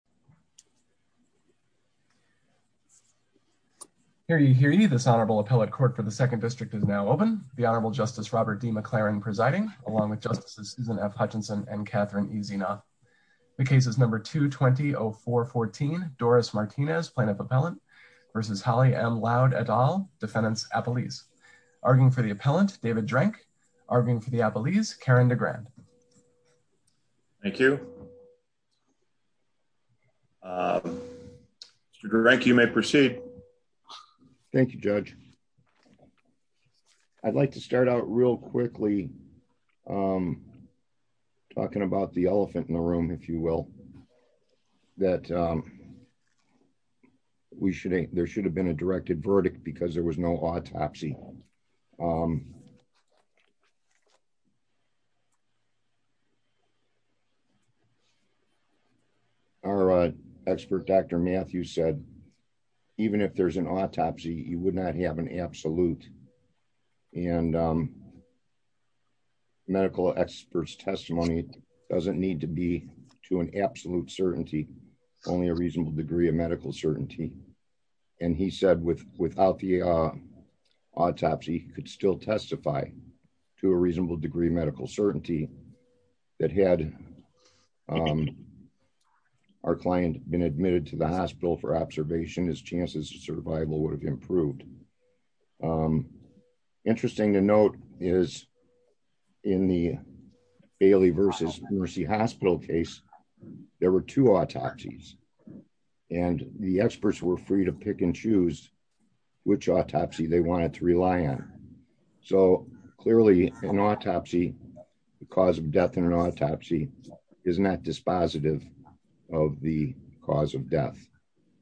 v. Holly M. Loud et al, defendants Appalese. Arguing for the appellant, David Drank. Arguing for the Appalese, Karen DeGrande. Thank you. You may proceed. Thank you, Judge. I'd like to start out real quickly. I'm going to be talking about the elephant in the room, if you will, that we should there should have been a directed verdict because there was no autopsy. Um, our expert Dr. Matthew said, even if there's an autopsy, you would not have an absolute and medical experts testimony doesn't need to be to an absolute certainty, only a reasonable degree of medical certainty. And he said with without the autopsy could still testify to a reasonable degree medical certainty that had our client been admitted to the hospital for observation his chances of survival would have improved. Interesting to note is in the Bailey versus Mercy Hospital case. There were two autopsies, and the experts were free to pick and choose which autopsy they wanted to rely on. So, clearly, an autopsy. The cause of death in an autopsy is not dispositive of the cause of death.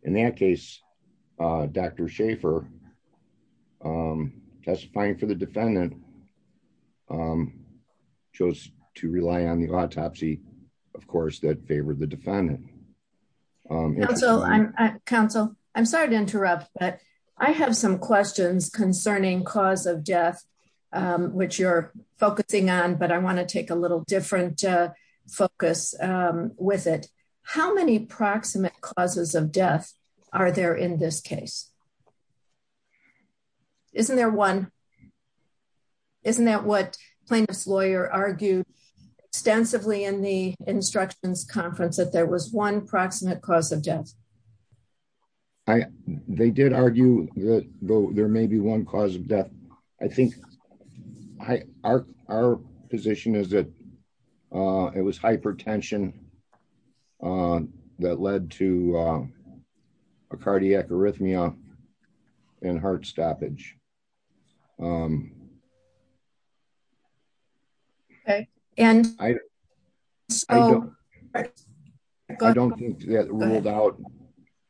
In that case, Dr Schaefer testifying for the defendant chose to rely on the autopsy. Of course that favor the defendant. So I'm Council, I'm sorry to interrupt but I have some questions concerning cause of death, which you're focusing on but I want to take a little different focus with it. How many proximate causes of death. Are there in this case. Isn't there one. Isn't that what plaintiffs lawyer argued extensively in the instructions conference that there was one proximate cause of death. I, they did argue that there may be one cause of death. I think I are our position is that it was hypertension. That led to a cardiac arrhythmia and heart stoppage. And I don't. I don't think that ruled out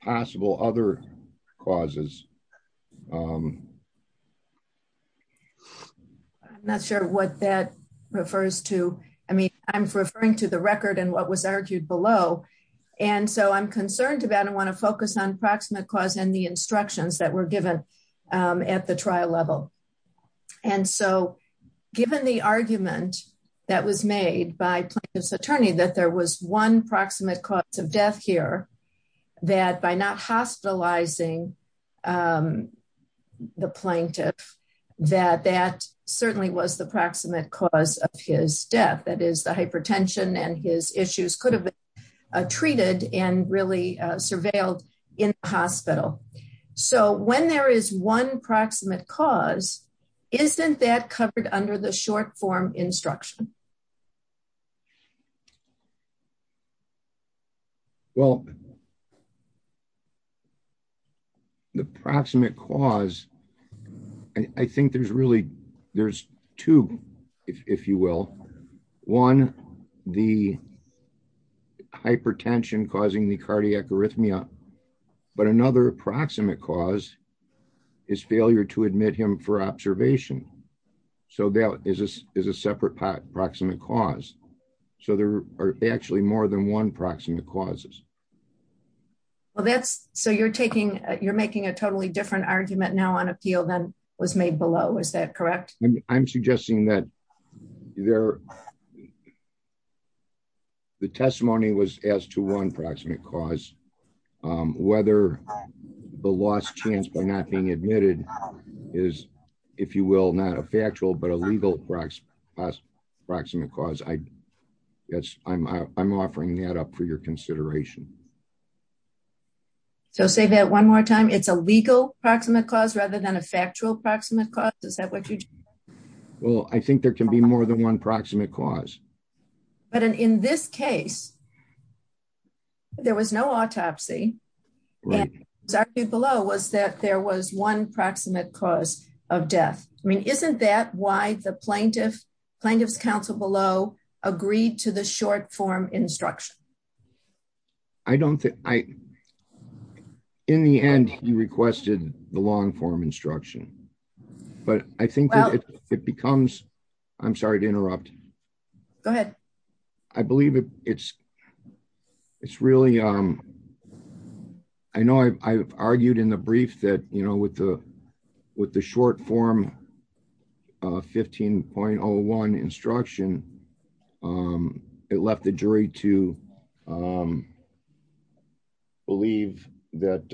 possible other causes. Not sure what that refers to. I mean, I'm referring to the record and what was argued below. And so I'm concerned about I want to focus on proximate cause and the instructions that were given at the trial level. And so, given the argument that was made by this attorney that there was one proximate cause of death here that by not hospitalizing the plaintiff that that certainly was the proximate cause of his death, that is the hypertension and his issues could have treated and really surveilled in hospital. So when there is one proximate cause. Isn't that covered under the short form instruction. Well, the proximate cause. I think there's really, there's two, if you will. One, the hypertension causing the cardiac arrhythmia. But another proximate cause is failure to admit him for observation. So that is a separate part proximate cause. So there are actually more than one proximate causes. Well that's so you're taking, you're making a totally different argument now on appeal then was made below Is that correct, I'm suggesting that there. The testimony was as to one proximate cause, whether the last chance by not being admitted is, if you will, not a factual but a legal proximate cause I guess I'm offering that up for your consideration. So say that one more time it's a legal proximate cause rather than a factual proximate cause. Is that what you. Well, I think there can be more than one proximate cause. But in this case, there was no autopsy. Below was that there was one proximate cause of death. I mean, isn't that why the plaintiff plaintiff's counsel below agreed to the short form instruction. I don't think I. In the end, you requested the long form instruction. But I think it becomes. I'm sorry to interrupt. Go ahead. I believe it's, it's really, um, I know I've argued in the brief that you know with the, with the short form 15.01 instruction. It left the jury to believe that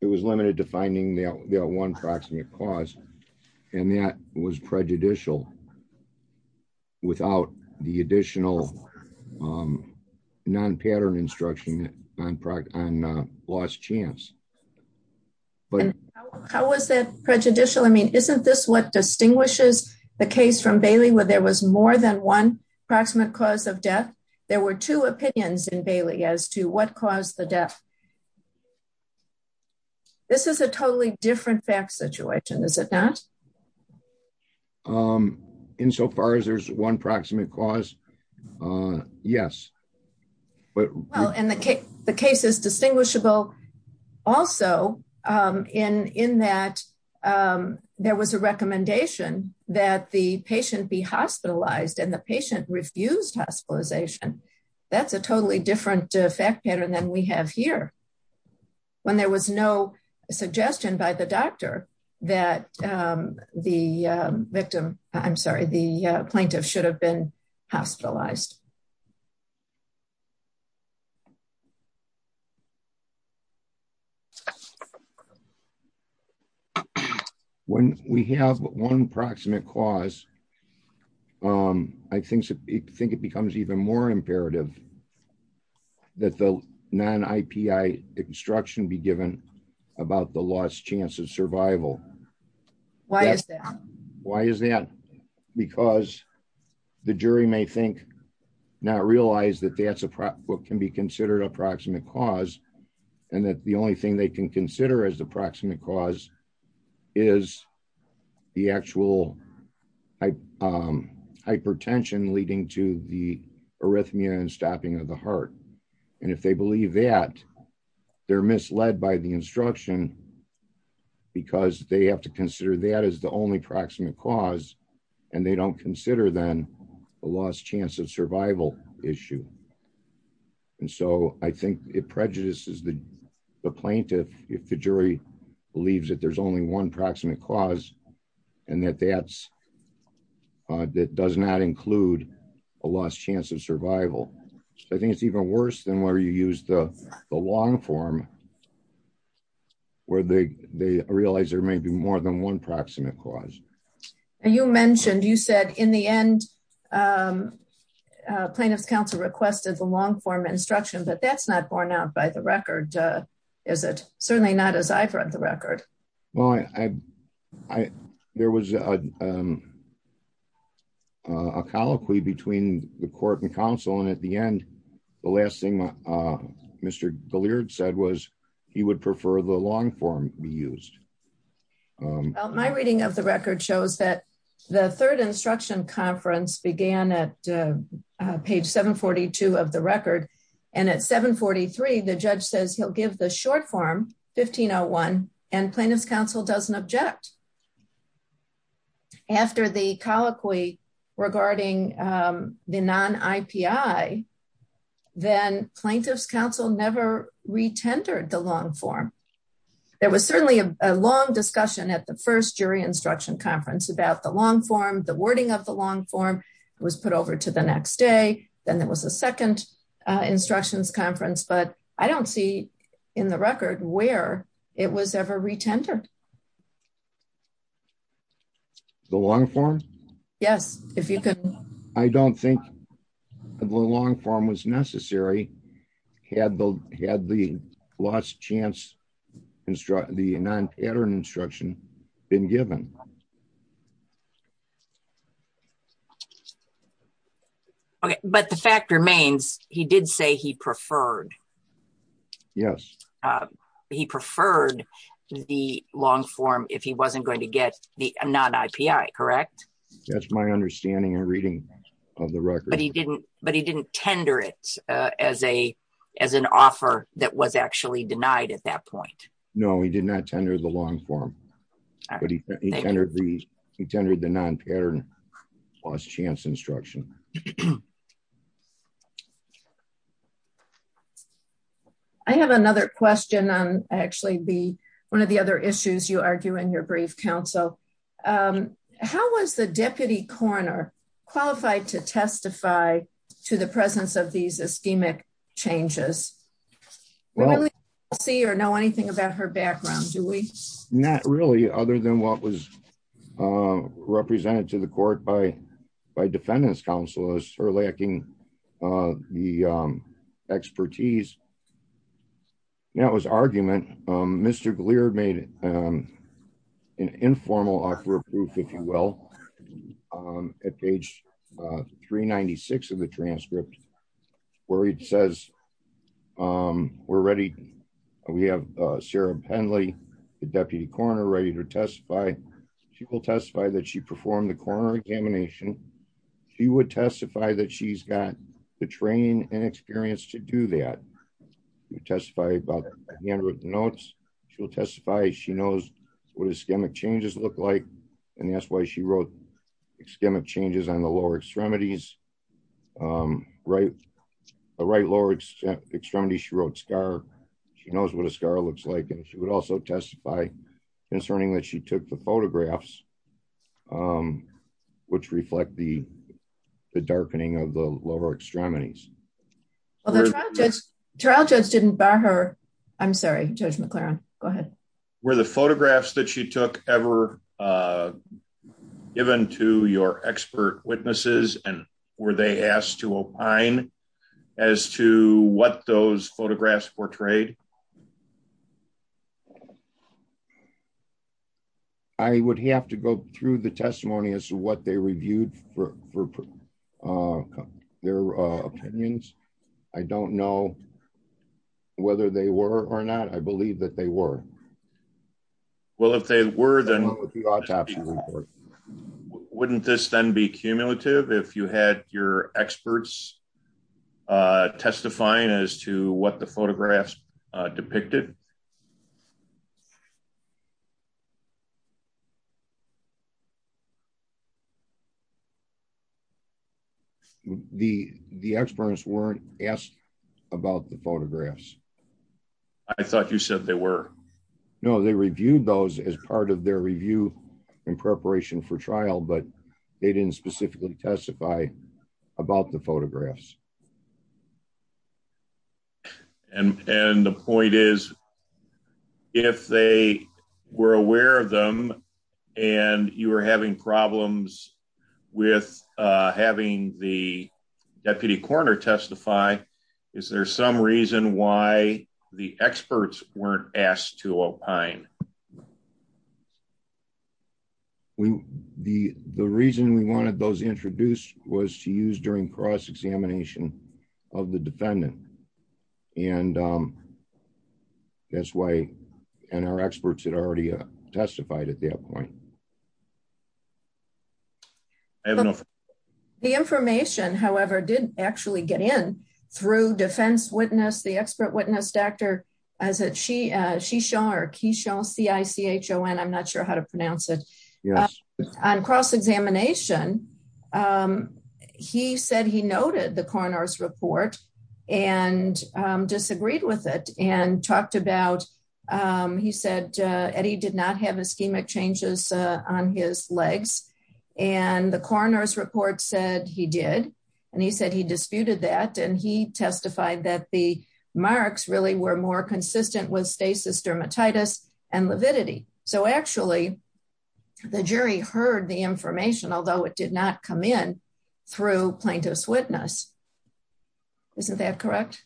it was limited to finding the one proximate cause. And that was prejudicial. Without the additional non pattern instruction on product on last chance. But how was that prejudicial I mean isn't this what distinguishes the case from Bailey where there was more than one proximate cause of death. There were two opinions in Bailey as to what caused the death. This is a totally different fact situation is it that in so far as there's one proximate cause. Yes. Well, and the case, the case is distinguishable. Also, in, in that there was a recommendation that the patient be hospitalized and the patient refused hospitalization. That's a totally different effect better than we have here. When there was no suggestion by the doctor that the victim. I'm sorry the plaintiff should have been hospitalized. When we have one proximate cause. I think, I think it becomes even more imperative that the non IPI instruction be given about the last chance of survival. Why is that. Why is that. Because the jury may think not realize that that's what can be considered approximate cause. And that the only thing they can consider as the proximate cause is the actual hypertension leading to the arrhythmia and stopping of the heart. And if they believe that they're misled by the instruction, because they have to consider that as the only proximate cause, and they don't consider them a last chance of survival issue. And so I think it prejudices the plaintiff, if the jury believes that there's only one proximate cause, and that that's that does not include a last chance of survival. I think it's even worse than where you use the long form, where they, they realize there may be more than one proximate cause. You mentioned you said in the end, plaintiffs counsel requested the long form instruction but that's not borne out by the record. Is it certainly not as I've read the record. Well, I, I, there was a colloquy between the court and counsel and at the end. The last thing. Mr. Gilear said was, he would prefer the long form be used. My reading of the record shows that the third instruction conference began at page 742 of the record, and at 743 the judge says he'll give the short form 1501 and plaintiffs counsel doesn't object. After the colloquy regarding the non IPI, then plaintiffs counsel never retentive the long form. There was certainly a long discussion at the first jury instruction conference about the long form the wording of the long form was put over to the next day, then there was a second instructions conference, but I don't see in the record where it was ever retentive. The long form. Yes, if you could. I don't think the long form was necessary. Had the had the last chance instruct the non pattern instruction been given. Okay, but the fact remains, he did say he preferred. Yes. He preferred the long form if he wasn't going to get the non IPI correct. That's my understanding and reading of the record, but he didn't, but he didn't tender it as a, as an offer that was actually denied at that point. No, he did not tender the long form, but he entered the tender the non pattern last chance instruction. I have another question on actually be one of the other issues you argue in your brief counsel. How was the deputy coroner qualified to testify to the presence of these ischemic changes. See or know anything about her background, do we not really other than what was represented to the court by by defendants counselors are lacking the expertise. Now his argument. Mr. Gleer made an informal offer of proof, if you will, at page 396 of the transcript, where it says, we're ready. We have Sarah Penley, the deputy coroner ready to testify. She will testify that she performed the coroner examination. He would testify that she's got the training and experience to do that. You testify about notes, she'll testify she knows what ischemic changes look like. And that's why she wrote ischemic changes on the lower extremities. Right. Right lower extremity she wrote scar. She knows what a scar looks like and she would also testify, concerning that she took the photographs, which reflect the darkening of the lower extremities. Judge didn't buy her. I'm sorry, Judge McLaren, go ahead, where the photographs that she took ever given to your expert witnesses, and were they asked to opine as to what those photographs portrayed. I would have to go through the testimony as to what they reviewed for their opinions. I don't know whether they were or not I believe that they were. Well if they were then wouldn't this then be cumulative if you had your experts testifying as to what the photographs depicted. The, the experts weren't asked about the photographs. I thought you said they were. No, they reviewed those as part of their review in preparation for trial but they didn't specifically testify about the photographs. And, and the point is, if they were aware of them, and you are having problems with having the deputy coroner testify. Is there some reason why the experts weren't asked to opine. We, the, the reason we wanted those introduced was to use during cross examination of the defendant. And that's why, and our experts had already testified at that point. I don't know if the information however didn't actually get in through defense witness the expert witness doctor, as it she she shark he shall see ICHO and I'm not sure how to pronounce it. On cross examination. He said he noted the corners report and disagreed with it and talked about. He said, Eddie did not have ischemic changes on his legs, and the corners report said he did. And he said he disputed that and he testified that the marks really were more consistent with stasis dermatitis and lividity. So actually, the jury heard the information, although it did not come in through plaintiff's witness. Isn't that correct.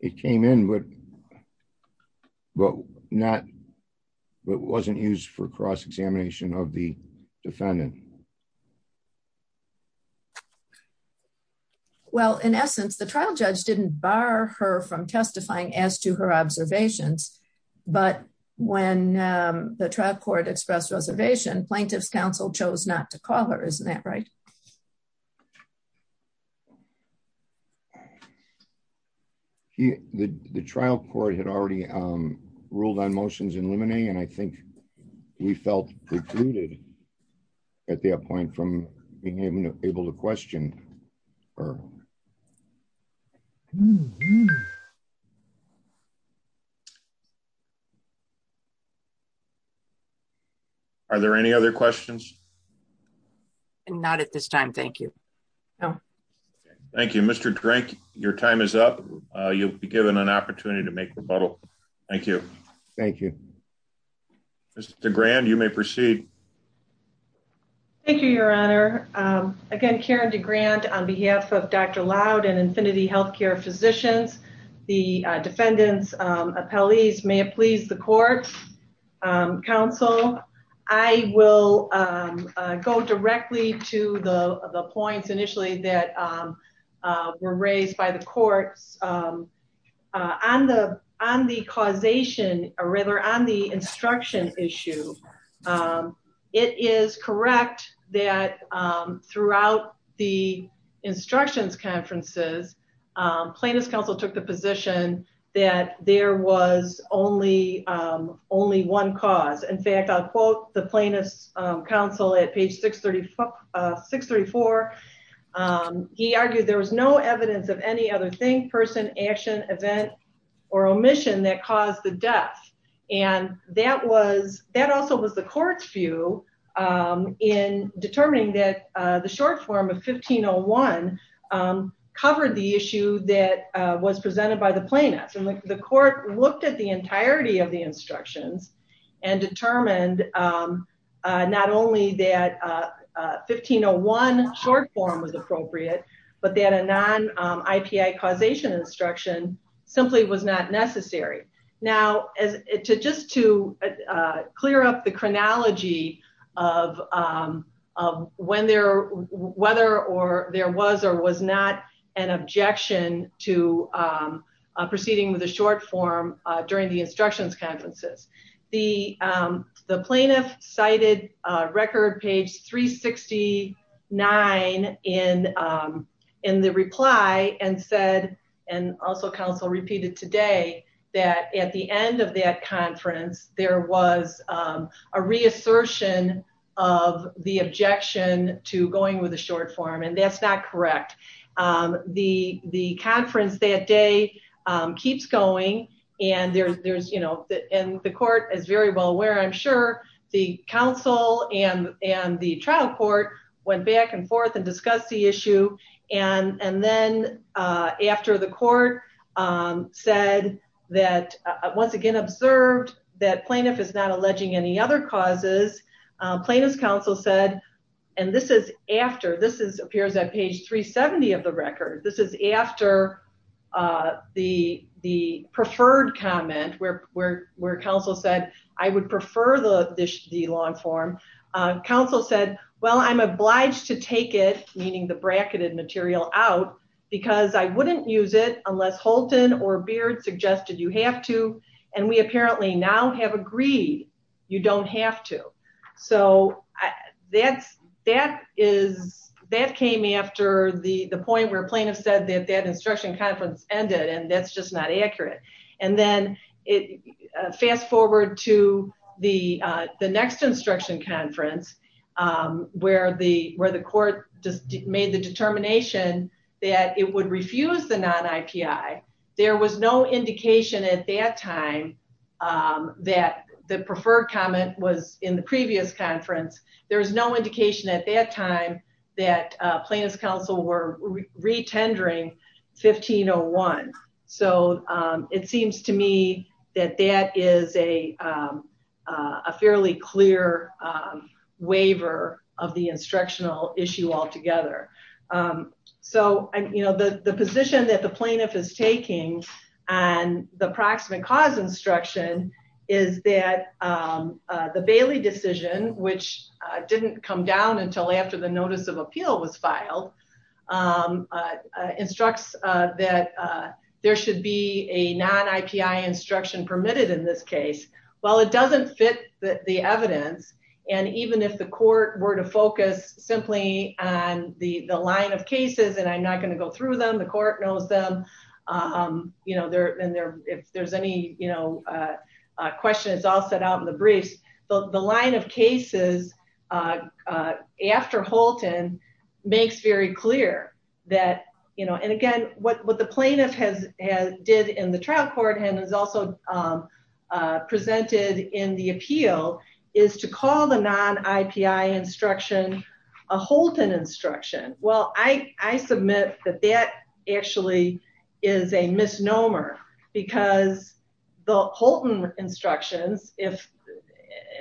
It came in with. Well, not wasn't used for cross examination of the defendant. Well, in essence, the trial judge didn't bar her from testifying as to her observations. But when the trial court expressed reservation plaintiff's counsel chose not to call her isn't that right. He, the trial court had already ruled on motions and limiting and I think we felt included. At that point from being able to able to question, or are there any other questions. Not at this time. Thank you. Thank you, Mr. Drake, your time is up, you'll be given an opportunity to make rebuttal. Thank you. Thank you. The grand you may proceed. Thank you, Your Honor. Again Karen to grant on behalf of Dr loud and infinity healthcare physicians. The defendants appellees may please the court council. I will go directly to the points initially that were raised by the courts on the, on the causation, or rather on the instruction issue. It is correct that throughout the instructions conferences plaintiff's counsel took the position that there was only only one cause in fact I'll quote the plaintiff's counsel at page 630 634. He argued there was no evidence of any other thing person action event, or omission that caused the death. And that was that also was the court's view in determining that the short form of 1501 covered the issue that was presented by the plaintiffs and the court looked at the entirety of the instructions and determined, not only that 1501 short form was appropriate, but they had a non IPI causation instruction, simply was not necessary. Now, as it to just to clear up the chronology of when there, whether or there was or was not an objection to proceeding with a short form during the instructions conferences, the, the plaintiff cited record page 369 in in the reply and said, and also counsel repeated today that at the end of that conference, there was a reassertion of the objection to going with a short form and that's not correct. The, the conference that day keeps going, and there's there's you know that and the court is very well aware I'm sure the council and and the trial court went back and forth and discuss the issue. And, and then after the court said that once again observed that plaintiff is not alleging any other causes plaintiff's counsel said, and this is after this is appears on page 370 of the record. This is after the, the preferred comment where, where, where counsel said, I would prefer the dish the long form council said, well I'm obliged to take it, meaning the bracketed material out because I wouldn't use it unless Holton or beard suggested you have to. And we apparently now have agreed, you don't have to. So, that's, that is, that came after the the point where plaintiff said that that instruction conference ended and that's just not accurate. And then it fast forward to the, the next instruction conference, where the, where the court just made the determination that it would refuse the non IPI, there was no indication at that time that the preferred comment was in the previous conference, there was no indication at that time that plaintiff's counsel were re tendering 1501. So, it seems to me that that is a fairly clear waiver of the instructional issue altogether. So, you know, the, the position that the plaintiff is taking on the proximate cause instruction is that the Bailey decision, which didn't come down until after the notice of appeal was filed instructs that there should be a non IPI instruction permitted in this case. Well, it doesn't fit the evidence. And even if the court were to focus simply on the the line of cases and I'm not going to go through them, the court knows them. You know, if there's any, you know, question, it's all set out in the briefs, the line of cases after Holton makes very clear that, you know, and again, what the plaintiff has did in the trial court and is also presented in the appeal is to call the non IPI instruction a Holton instruction. Well, I, I submit that that actually is a misnomer because the Holton instructions, if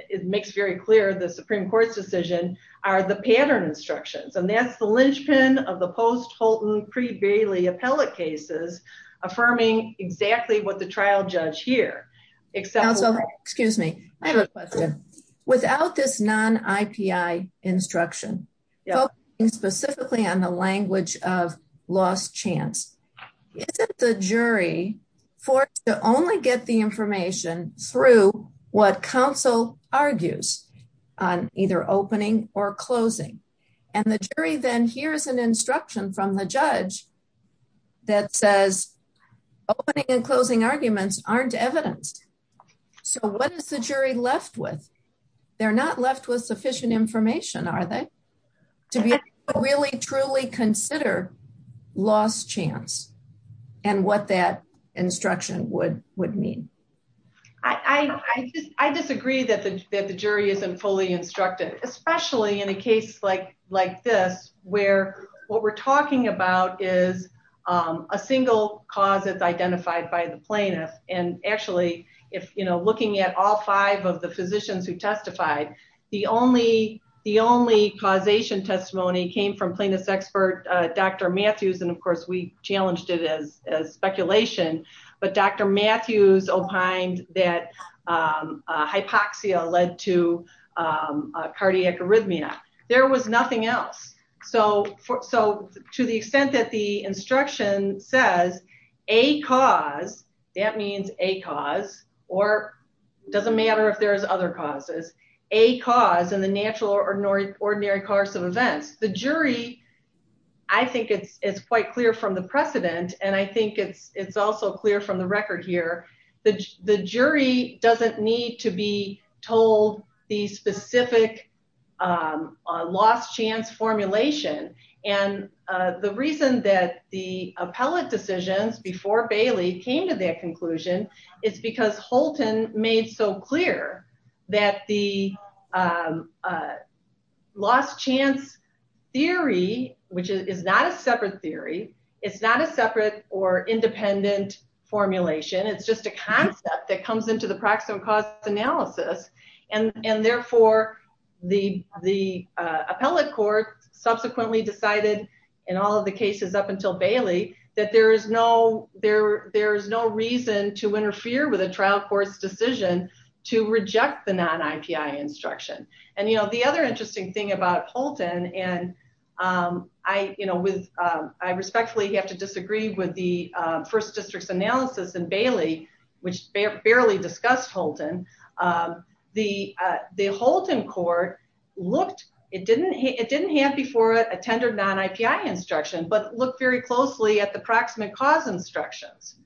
it makes very clear the Supreme Court's decision are the pattern instructions and that's the linchpin of the post Holton pre Bailey appellate cases affirming exactly what the trial judge here. Excuse me. I have a question. Without this non IPI instruction. Specifically on the language of last chance. The jury for to only get the information through what counsel argues on either opening or closing and the jury then here's an instruction from the judge that says opening and closing arguments aren't evidence. So what is the jury left with. They're not left with sufficient information are they to be really truly consider last chance. And what that instruction would would mean. I disagree that the jury isn't fully instructed, especially in a case like like this, where what we're talking about is a single cause it's identified by the plaintiff, and actually, if you know looking at all five of the physicians who testified. The only the only causation testimony came from plaintiff's expert, Dr. Matthews and of course we challenged it as speculation, but Dr. Matthews opined that hypoxia led to cardiac arrhythmia, there was nothing else. So, so, to the extent that the instruction says a cause that means a cause or doesn't matter if there's other causes a cause and the natural or normal ordinary course of events, the jury. I think it's it's quite clear from the precedent, and I think it's it's also clear from the record here that the jury doesn't need to be told the specific Lost chance formulation. And the reason that the appellate decisions before Bailey came to that conclusion. It's because Holton made so clear that the Lost chance theory, which is not a separate theory. It's not a separate or independent formulation. It's just a concept that comes into the proximate cause analysis and and therefore the the appellate court subsequently decided In all of the cases up until Bailey, that there is no there. There's no reason to interfere with a trial court's decision to reject the non IPI instruction. And, you know, the other interesting thing about Holton and I, you know, with I respectfully have to disagree with the first districts analysis and Bailey, which barely discussed Holton. The the Holton court looked it didn't it didn't have before it attended non IPI instruction, but look very closely at the proximate cause instructions.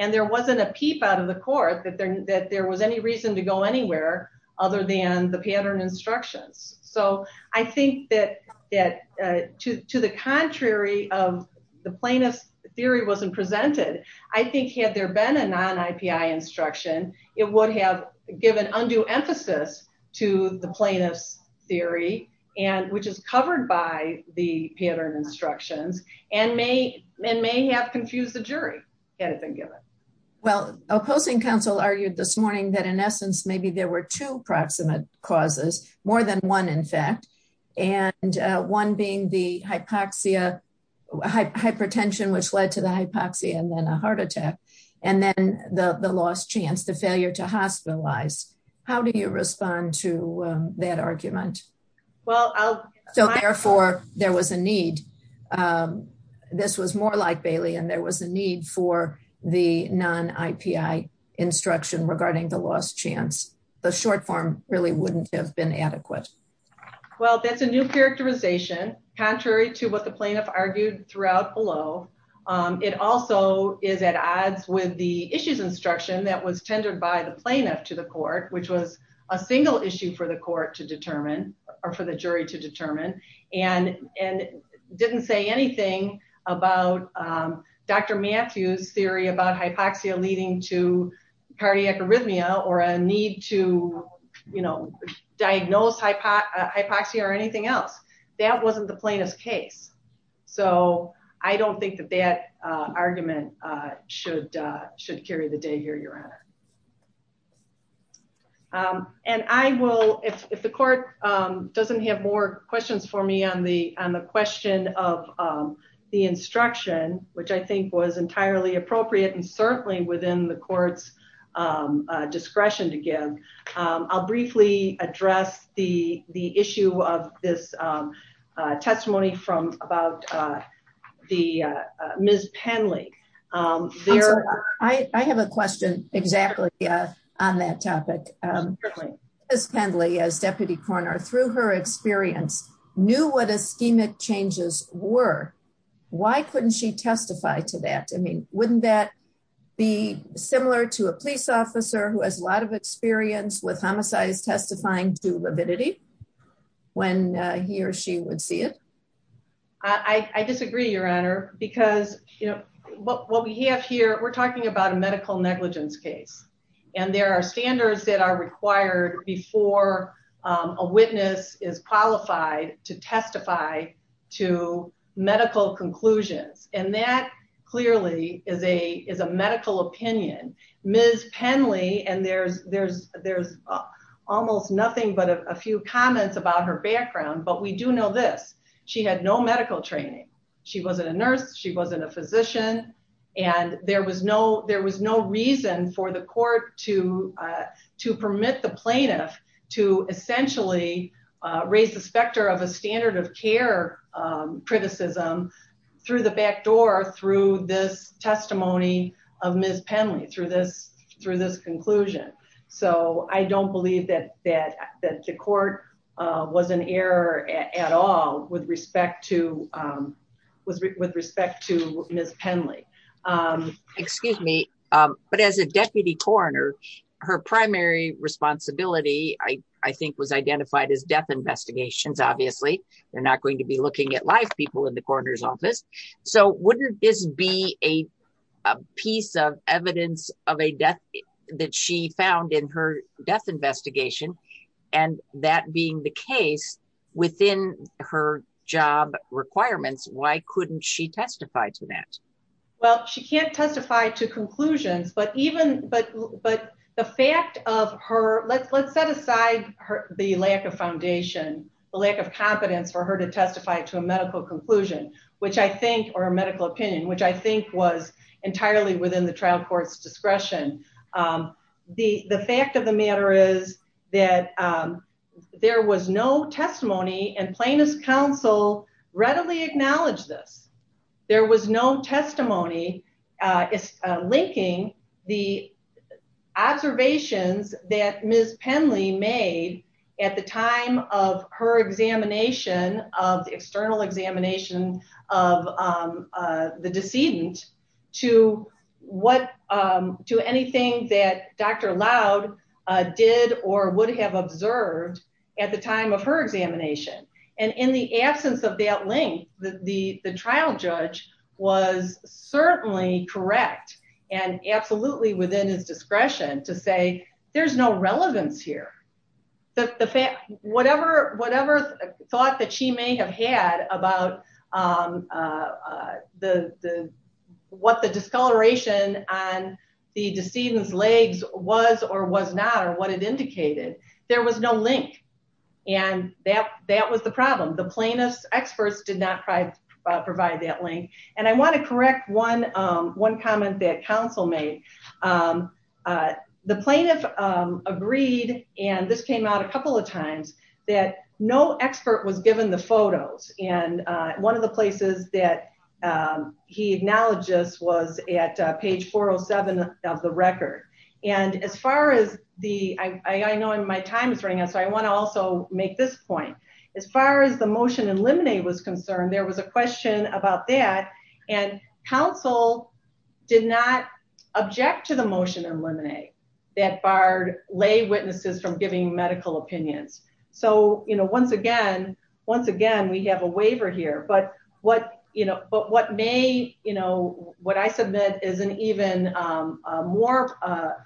And there wasn't a peep out of the court that there that there was any reason to go anywhere other than the pattern instructions. So I think that that to the contrary of the plaintiff's theory wasn't presented. I think, had there been a non IPI instruction, it would have given undue emphasis to the plaintiff's theory and which is covered by the pattern instructions and may and may have confused the jury anything given Well, opposing counsel argued this morning that in essence, maybe there were two proximate causes more than one. In fact, and one being the hypoxia hypertension, which led to the hypoxia and then a heart attack and then the the last chance to failure to hospitalized. How do you respond to that argument. Well, I'll So therefore, there was a need. This was more like Bailey and there was a need for the non IPI instruction regarding the last chance the short form really wouldn't have been adequate. Well, that's a new characterization, contrary to what the plaintiff argued throughout below. It also is at odds with the issues instruction that was tendered by the plaintiff to the court, which was a single issue for the court to determine or for the jury to determine and and didn't say anything about Dr. So I don't think that that argument should should carry the day here, Your Honor. And I will, if the court doesn't have more questions for me on the on the question of the instruction, which I think was entirely appropriate and certainly within the courts discretion to give. I'll briefly address the the issue of this testimony from about the Miss Penley. I have a question. Exactly. On that topic. Miss Penley as deputy coroner through her experience knew what a schemic changes were. Why couldn't she testify to that. I mean, wouldn't that be similar to a police officer who has a lot of experience with homicides testifying to lividity when he or she would see it. I disagree, Your Honor, because, you know, what we have here, we're talking about a medical negligence case. And there are standards that are required before a witness is qualified to testify to medical conclusions, and that clearly is a is a medical opinion. Miss Penley and there's there's there's almost nothing but a few comments about her background, but we do know this. She had no medical training. She wasn't a nurse. She wasn't a physician. And there was no there was no reason for the court to to permit the plaintiff to essentially raise the specter of a standard of care criticism through the back door through this testimony of Miss Penley through this through this conclusion. So I don't believe that that that the court was an error at all with respect to was with respect to Miss Penley. Excuse me. But as a deputy coroner, her primary responsibility, I think, was identified as death investigations. Obviously, they're not going to be looking at live people in the coroner's office. So wouldn't this be a piece of evidence of a death that she found in her death investigation? And that being the case within her job requirements, why couldn't she testify to that? Well, she can't testify to conclusions, but even but but the fact of her let's let's set aside the lack of foundation, the lack of competence for her to testify to a medical conclusion, which I think or a medical opinion, which I think was entirely within the trial courts discretion. The fact of the matter is that there was no testimony and plaintiff's counsel readily acknowledge this. There was no testimony is linking the observations that Miss Penley made at the time of her examination of the external examination of the decedent to what to anything that Dr. Loud did or would have observed at the time of her examination. And in the absence of that link, the trial judge was certainly correct and absolutely within his discretion to say there's no relevance here. Whatever thought that she may have had about what the discoloration on the decedent's legs was or was not or what it indicated, there was no link. And that was the problem. The plaintiff's experts did not provide that link. And I want to correct one comment that counsel made. The plaintiff agreed, and this came out a couple of times, that no expert was given the photos. And one of the places that he acknowledged this was at page 407 of the record. And as far as the, I know my time is running out, so I want to also make this point. As far as the motion in limine was concerned, there was a question about that. And counsel did not object to the motion in limine that barred lay witnesses from giving medical opinions. So, once again, we have a waiver here. But what may, what I submit is an even more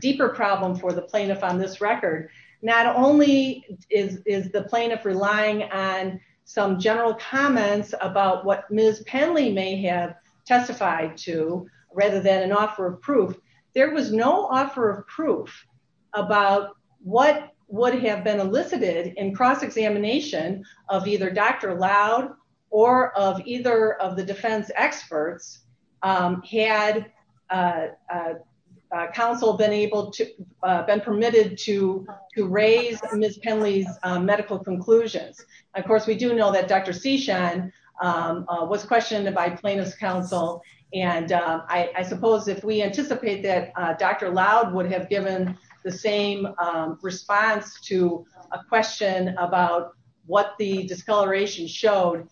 deeper problem for the plaintiff on this record. Not only is the plaintiff relying on some general comments about what Ms. Penley may have testified to, rather than an offer of proof, there was no offer of proof about what would have been elicited in cross-examination of either Dr. Loud or of either of the defense experts had counsel been able to, been permitted to raise Ms. Penley's medical conclusions. Of course, we do know that Dr. Cishan was questioned by plaintiff's counsel. And I suppose if we anticipate that Dr. Loud would have given the same response to a question about what the discoloration showed,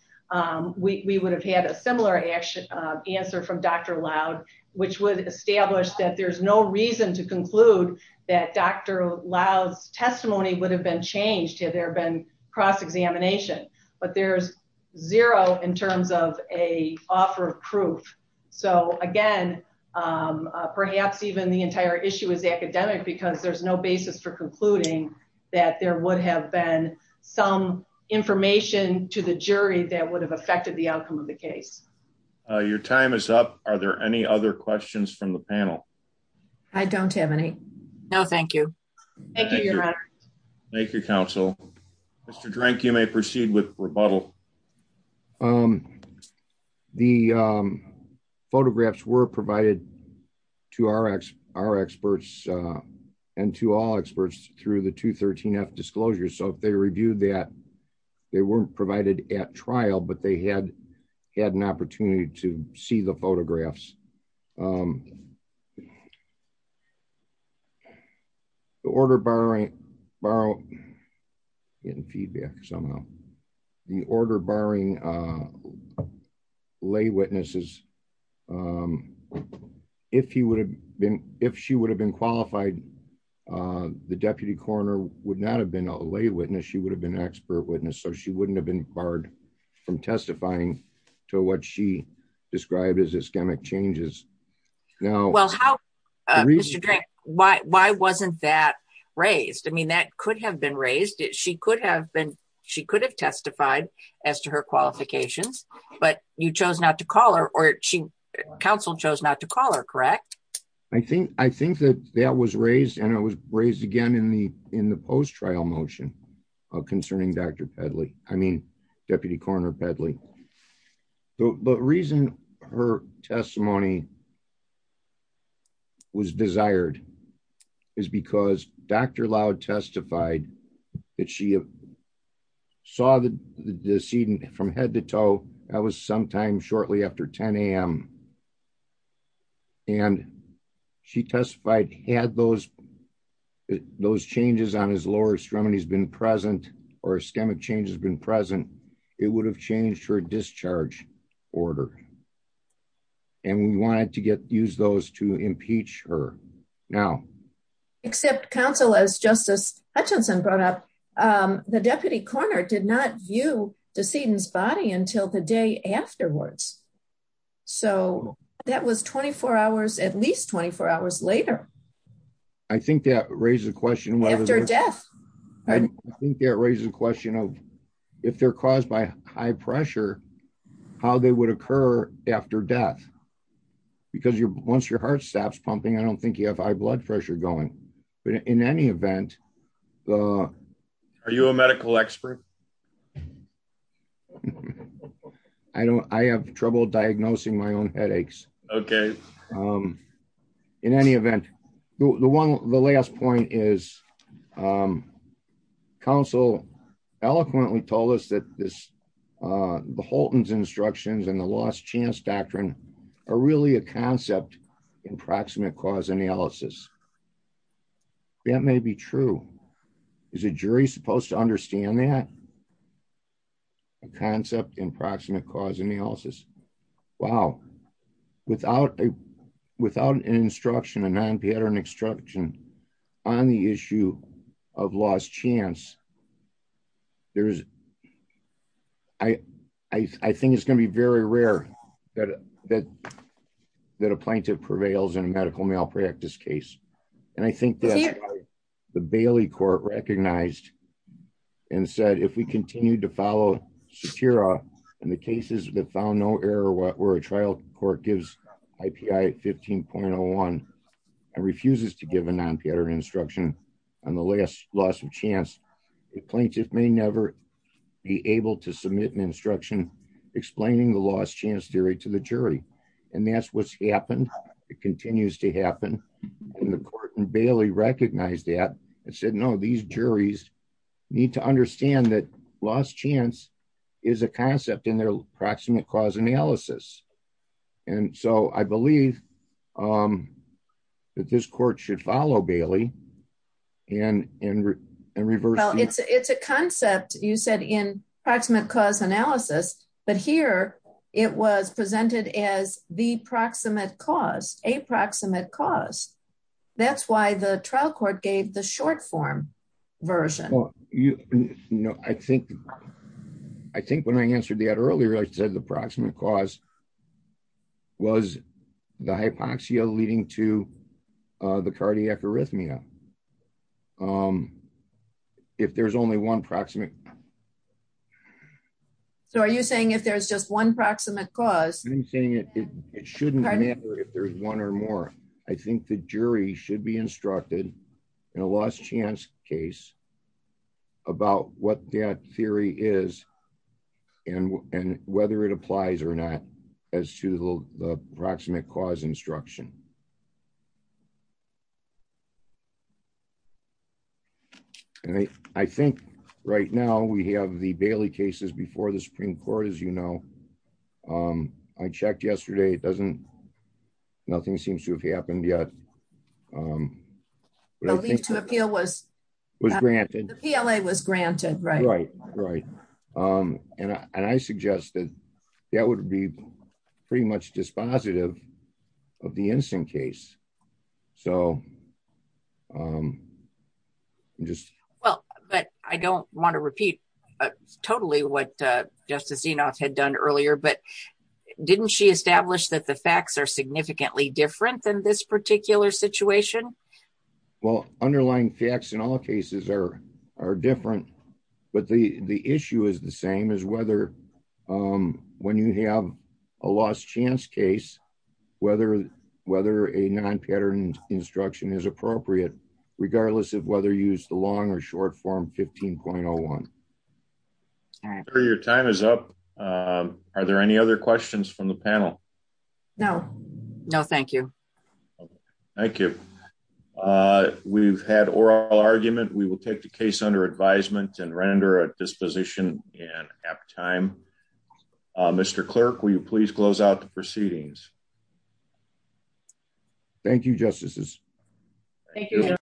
we would have had a similar answer from Dr. Loud, which would establish that there's no reason to conclude that Dr. Loud's testimony would have been changed had there been cross-examination. But there's zero in terms of a offer of proof. So, again, perhaps even the entire issue is academic because there's no basis for concluding that there would have been some information to the jury that would have affected the outcome of the case. Your time is up. Are there any other questions from the panel? I don't have any. No, thank you. Thank you, Your Honor. Thank you, counsel. Mr. Drank, you may proceed with rebuttal. The photographs were provided to our experts and to all experts through the 213F disclosure. So if they reviewed that, they weren't provided at trial, but they had had an opportunity to see the photographs. The order barring lay witnesses, if she would have been qualified, the deputy coroner would not have been a lay witness. She would have been an expert witness, so she wouldn't have been barred from testifying to what she described as ischemic changes. Well, Mr. Drank, why wasn't that raised? I mean, that could have been raised. She could have testified as to her qualifications, but you chose not to call her, or counsel chose not to call her, correct? I think that that was raised, and it was raised again in the post-trial motion concerning Dr. Pedley. I mean, Deputy Coroner Pedley. The reason her testimony was desired is because Dr. Loud testified that she saw the decedent from head to toe. That was sometime shortly after 10 a.m., and she testified had those changes on his lower extremities been present or ischemic changes been present, it would have changed her discharge order, and we wanted to use those to impeach her. Except counsel, as Justice Hutchinson brought up, the deputy coroner did not view the decedent's body until the day afterwards. So, that was 24 hours, at least 24 hours later. I think that raises a question. After death. I think that raises a question of, if they're caused by high pressure, how they would occur after death. Because once your heart stops pumping, I don't think you have high blood pressure going. But in any event... Are you a medical expert? I have trouble diagnosing my own headaches. Okay. In any event, the last point is, counsel eloquently told us that this, the Holton's instructions and the Lost Chance Doctrine are really a concept in proximate cause analysis. That may be true. Is a jury supposed to understand that? A concept in proximate cause analysis? Wow. Without an instruction, a non-pattern instruction, on the issue of lost chance, I think it's going to be very rare that a plaintiff prevails in a medical malpractice case. And I think that's why the Bailey Court recognized and said, if we continue to follow Satira and the cases that found no error where a trial court gives IPI 15.01 and refuses to give a non-pattern instruction on the last loss of chance, a plaintiff may never be able to submit an instruction explaining the lost chance theory to the jury. And that's what's happened. It continues to happen. And the court in Bailey recognized that and said, no, these juries need to understand that lost chance is a concept in their proximate cause analysis. And so I believe that this court should follow Bailey. Well, it's a concept you said in proximate cause analysis, but here it was presented as the proximate cause, a proximate cause. That's why the trial court gave the short form version. Well, you know, I think, I think when I answered that earlier, I said the proximate cause was the hypoxia leading to the cardiac arrhythmia. If there's only one proximate. So are you saying if there's just one proximate cause? It shouldn't matter if there's one or more. I think the jury should be instructed in a lost chance case about what that theory is and whether it applies or not as to the proximate cause instruction. I think right now we have the Bailey cases before the Supreme Court, as you know. I checked yesterday. It doesn't, nothing seems to have happened yet. The leave to appeal was was granted. The PLA was granted, right? Right, right. And I suggest that that would be pretty much dispositive of the instant case. Well, but I don't want to repeat totally what Justice Enoff had done earlier, but didn't she establish that the facts are significantly different than this particular situation? Well, underlying facts in all cases are different, but the issue is the same as whether when you have a lost chance case, whether a non-pattern instruction is appropriate, regardless of whether you use the long or short form 15.01. Your time is up. Are there any other questions from the panel? No. No, thank you. Thank you. We've had oral argument. We will take the case under advisement and render a disposition in apt time. Mr. Clerk, will you please close out the proceedings? Thank you, Justices. Thank you.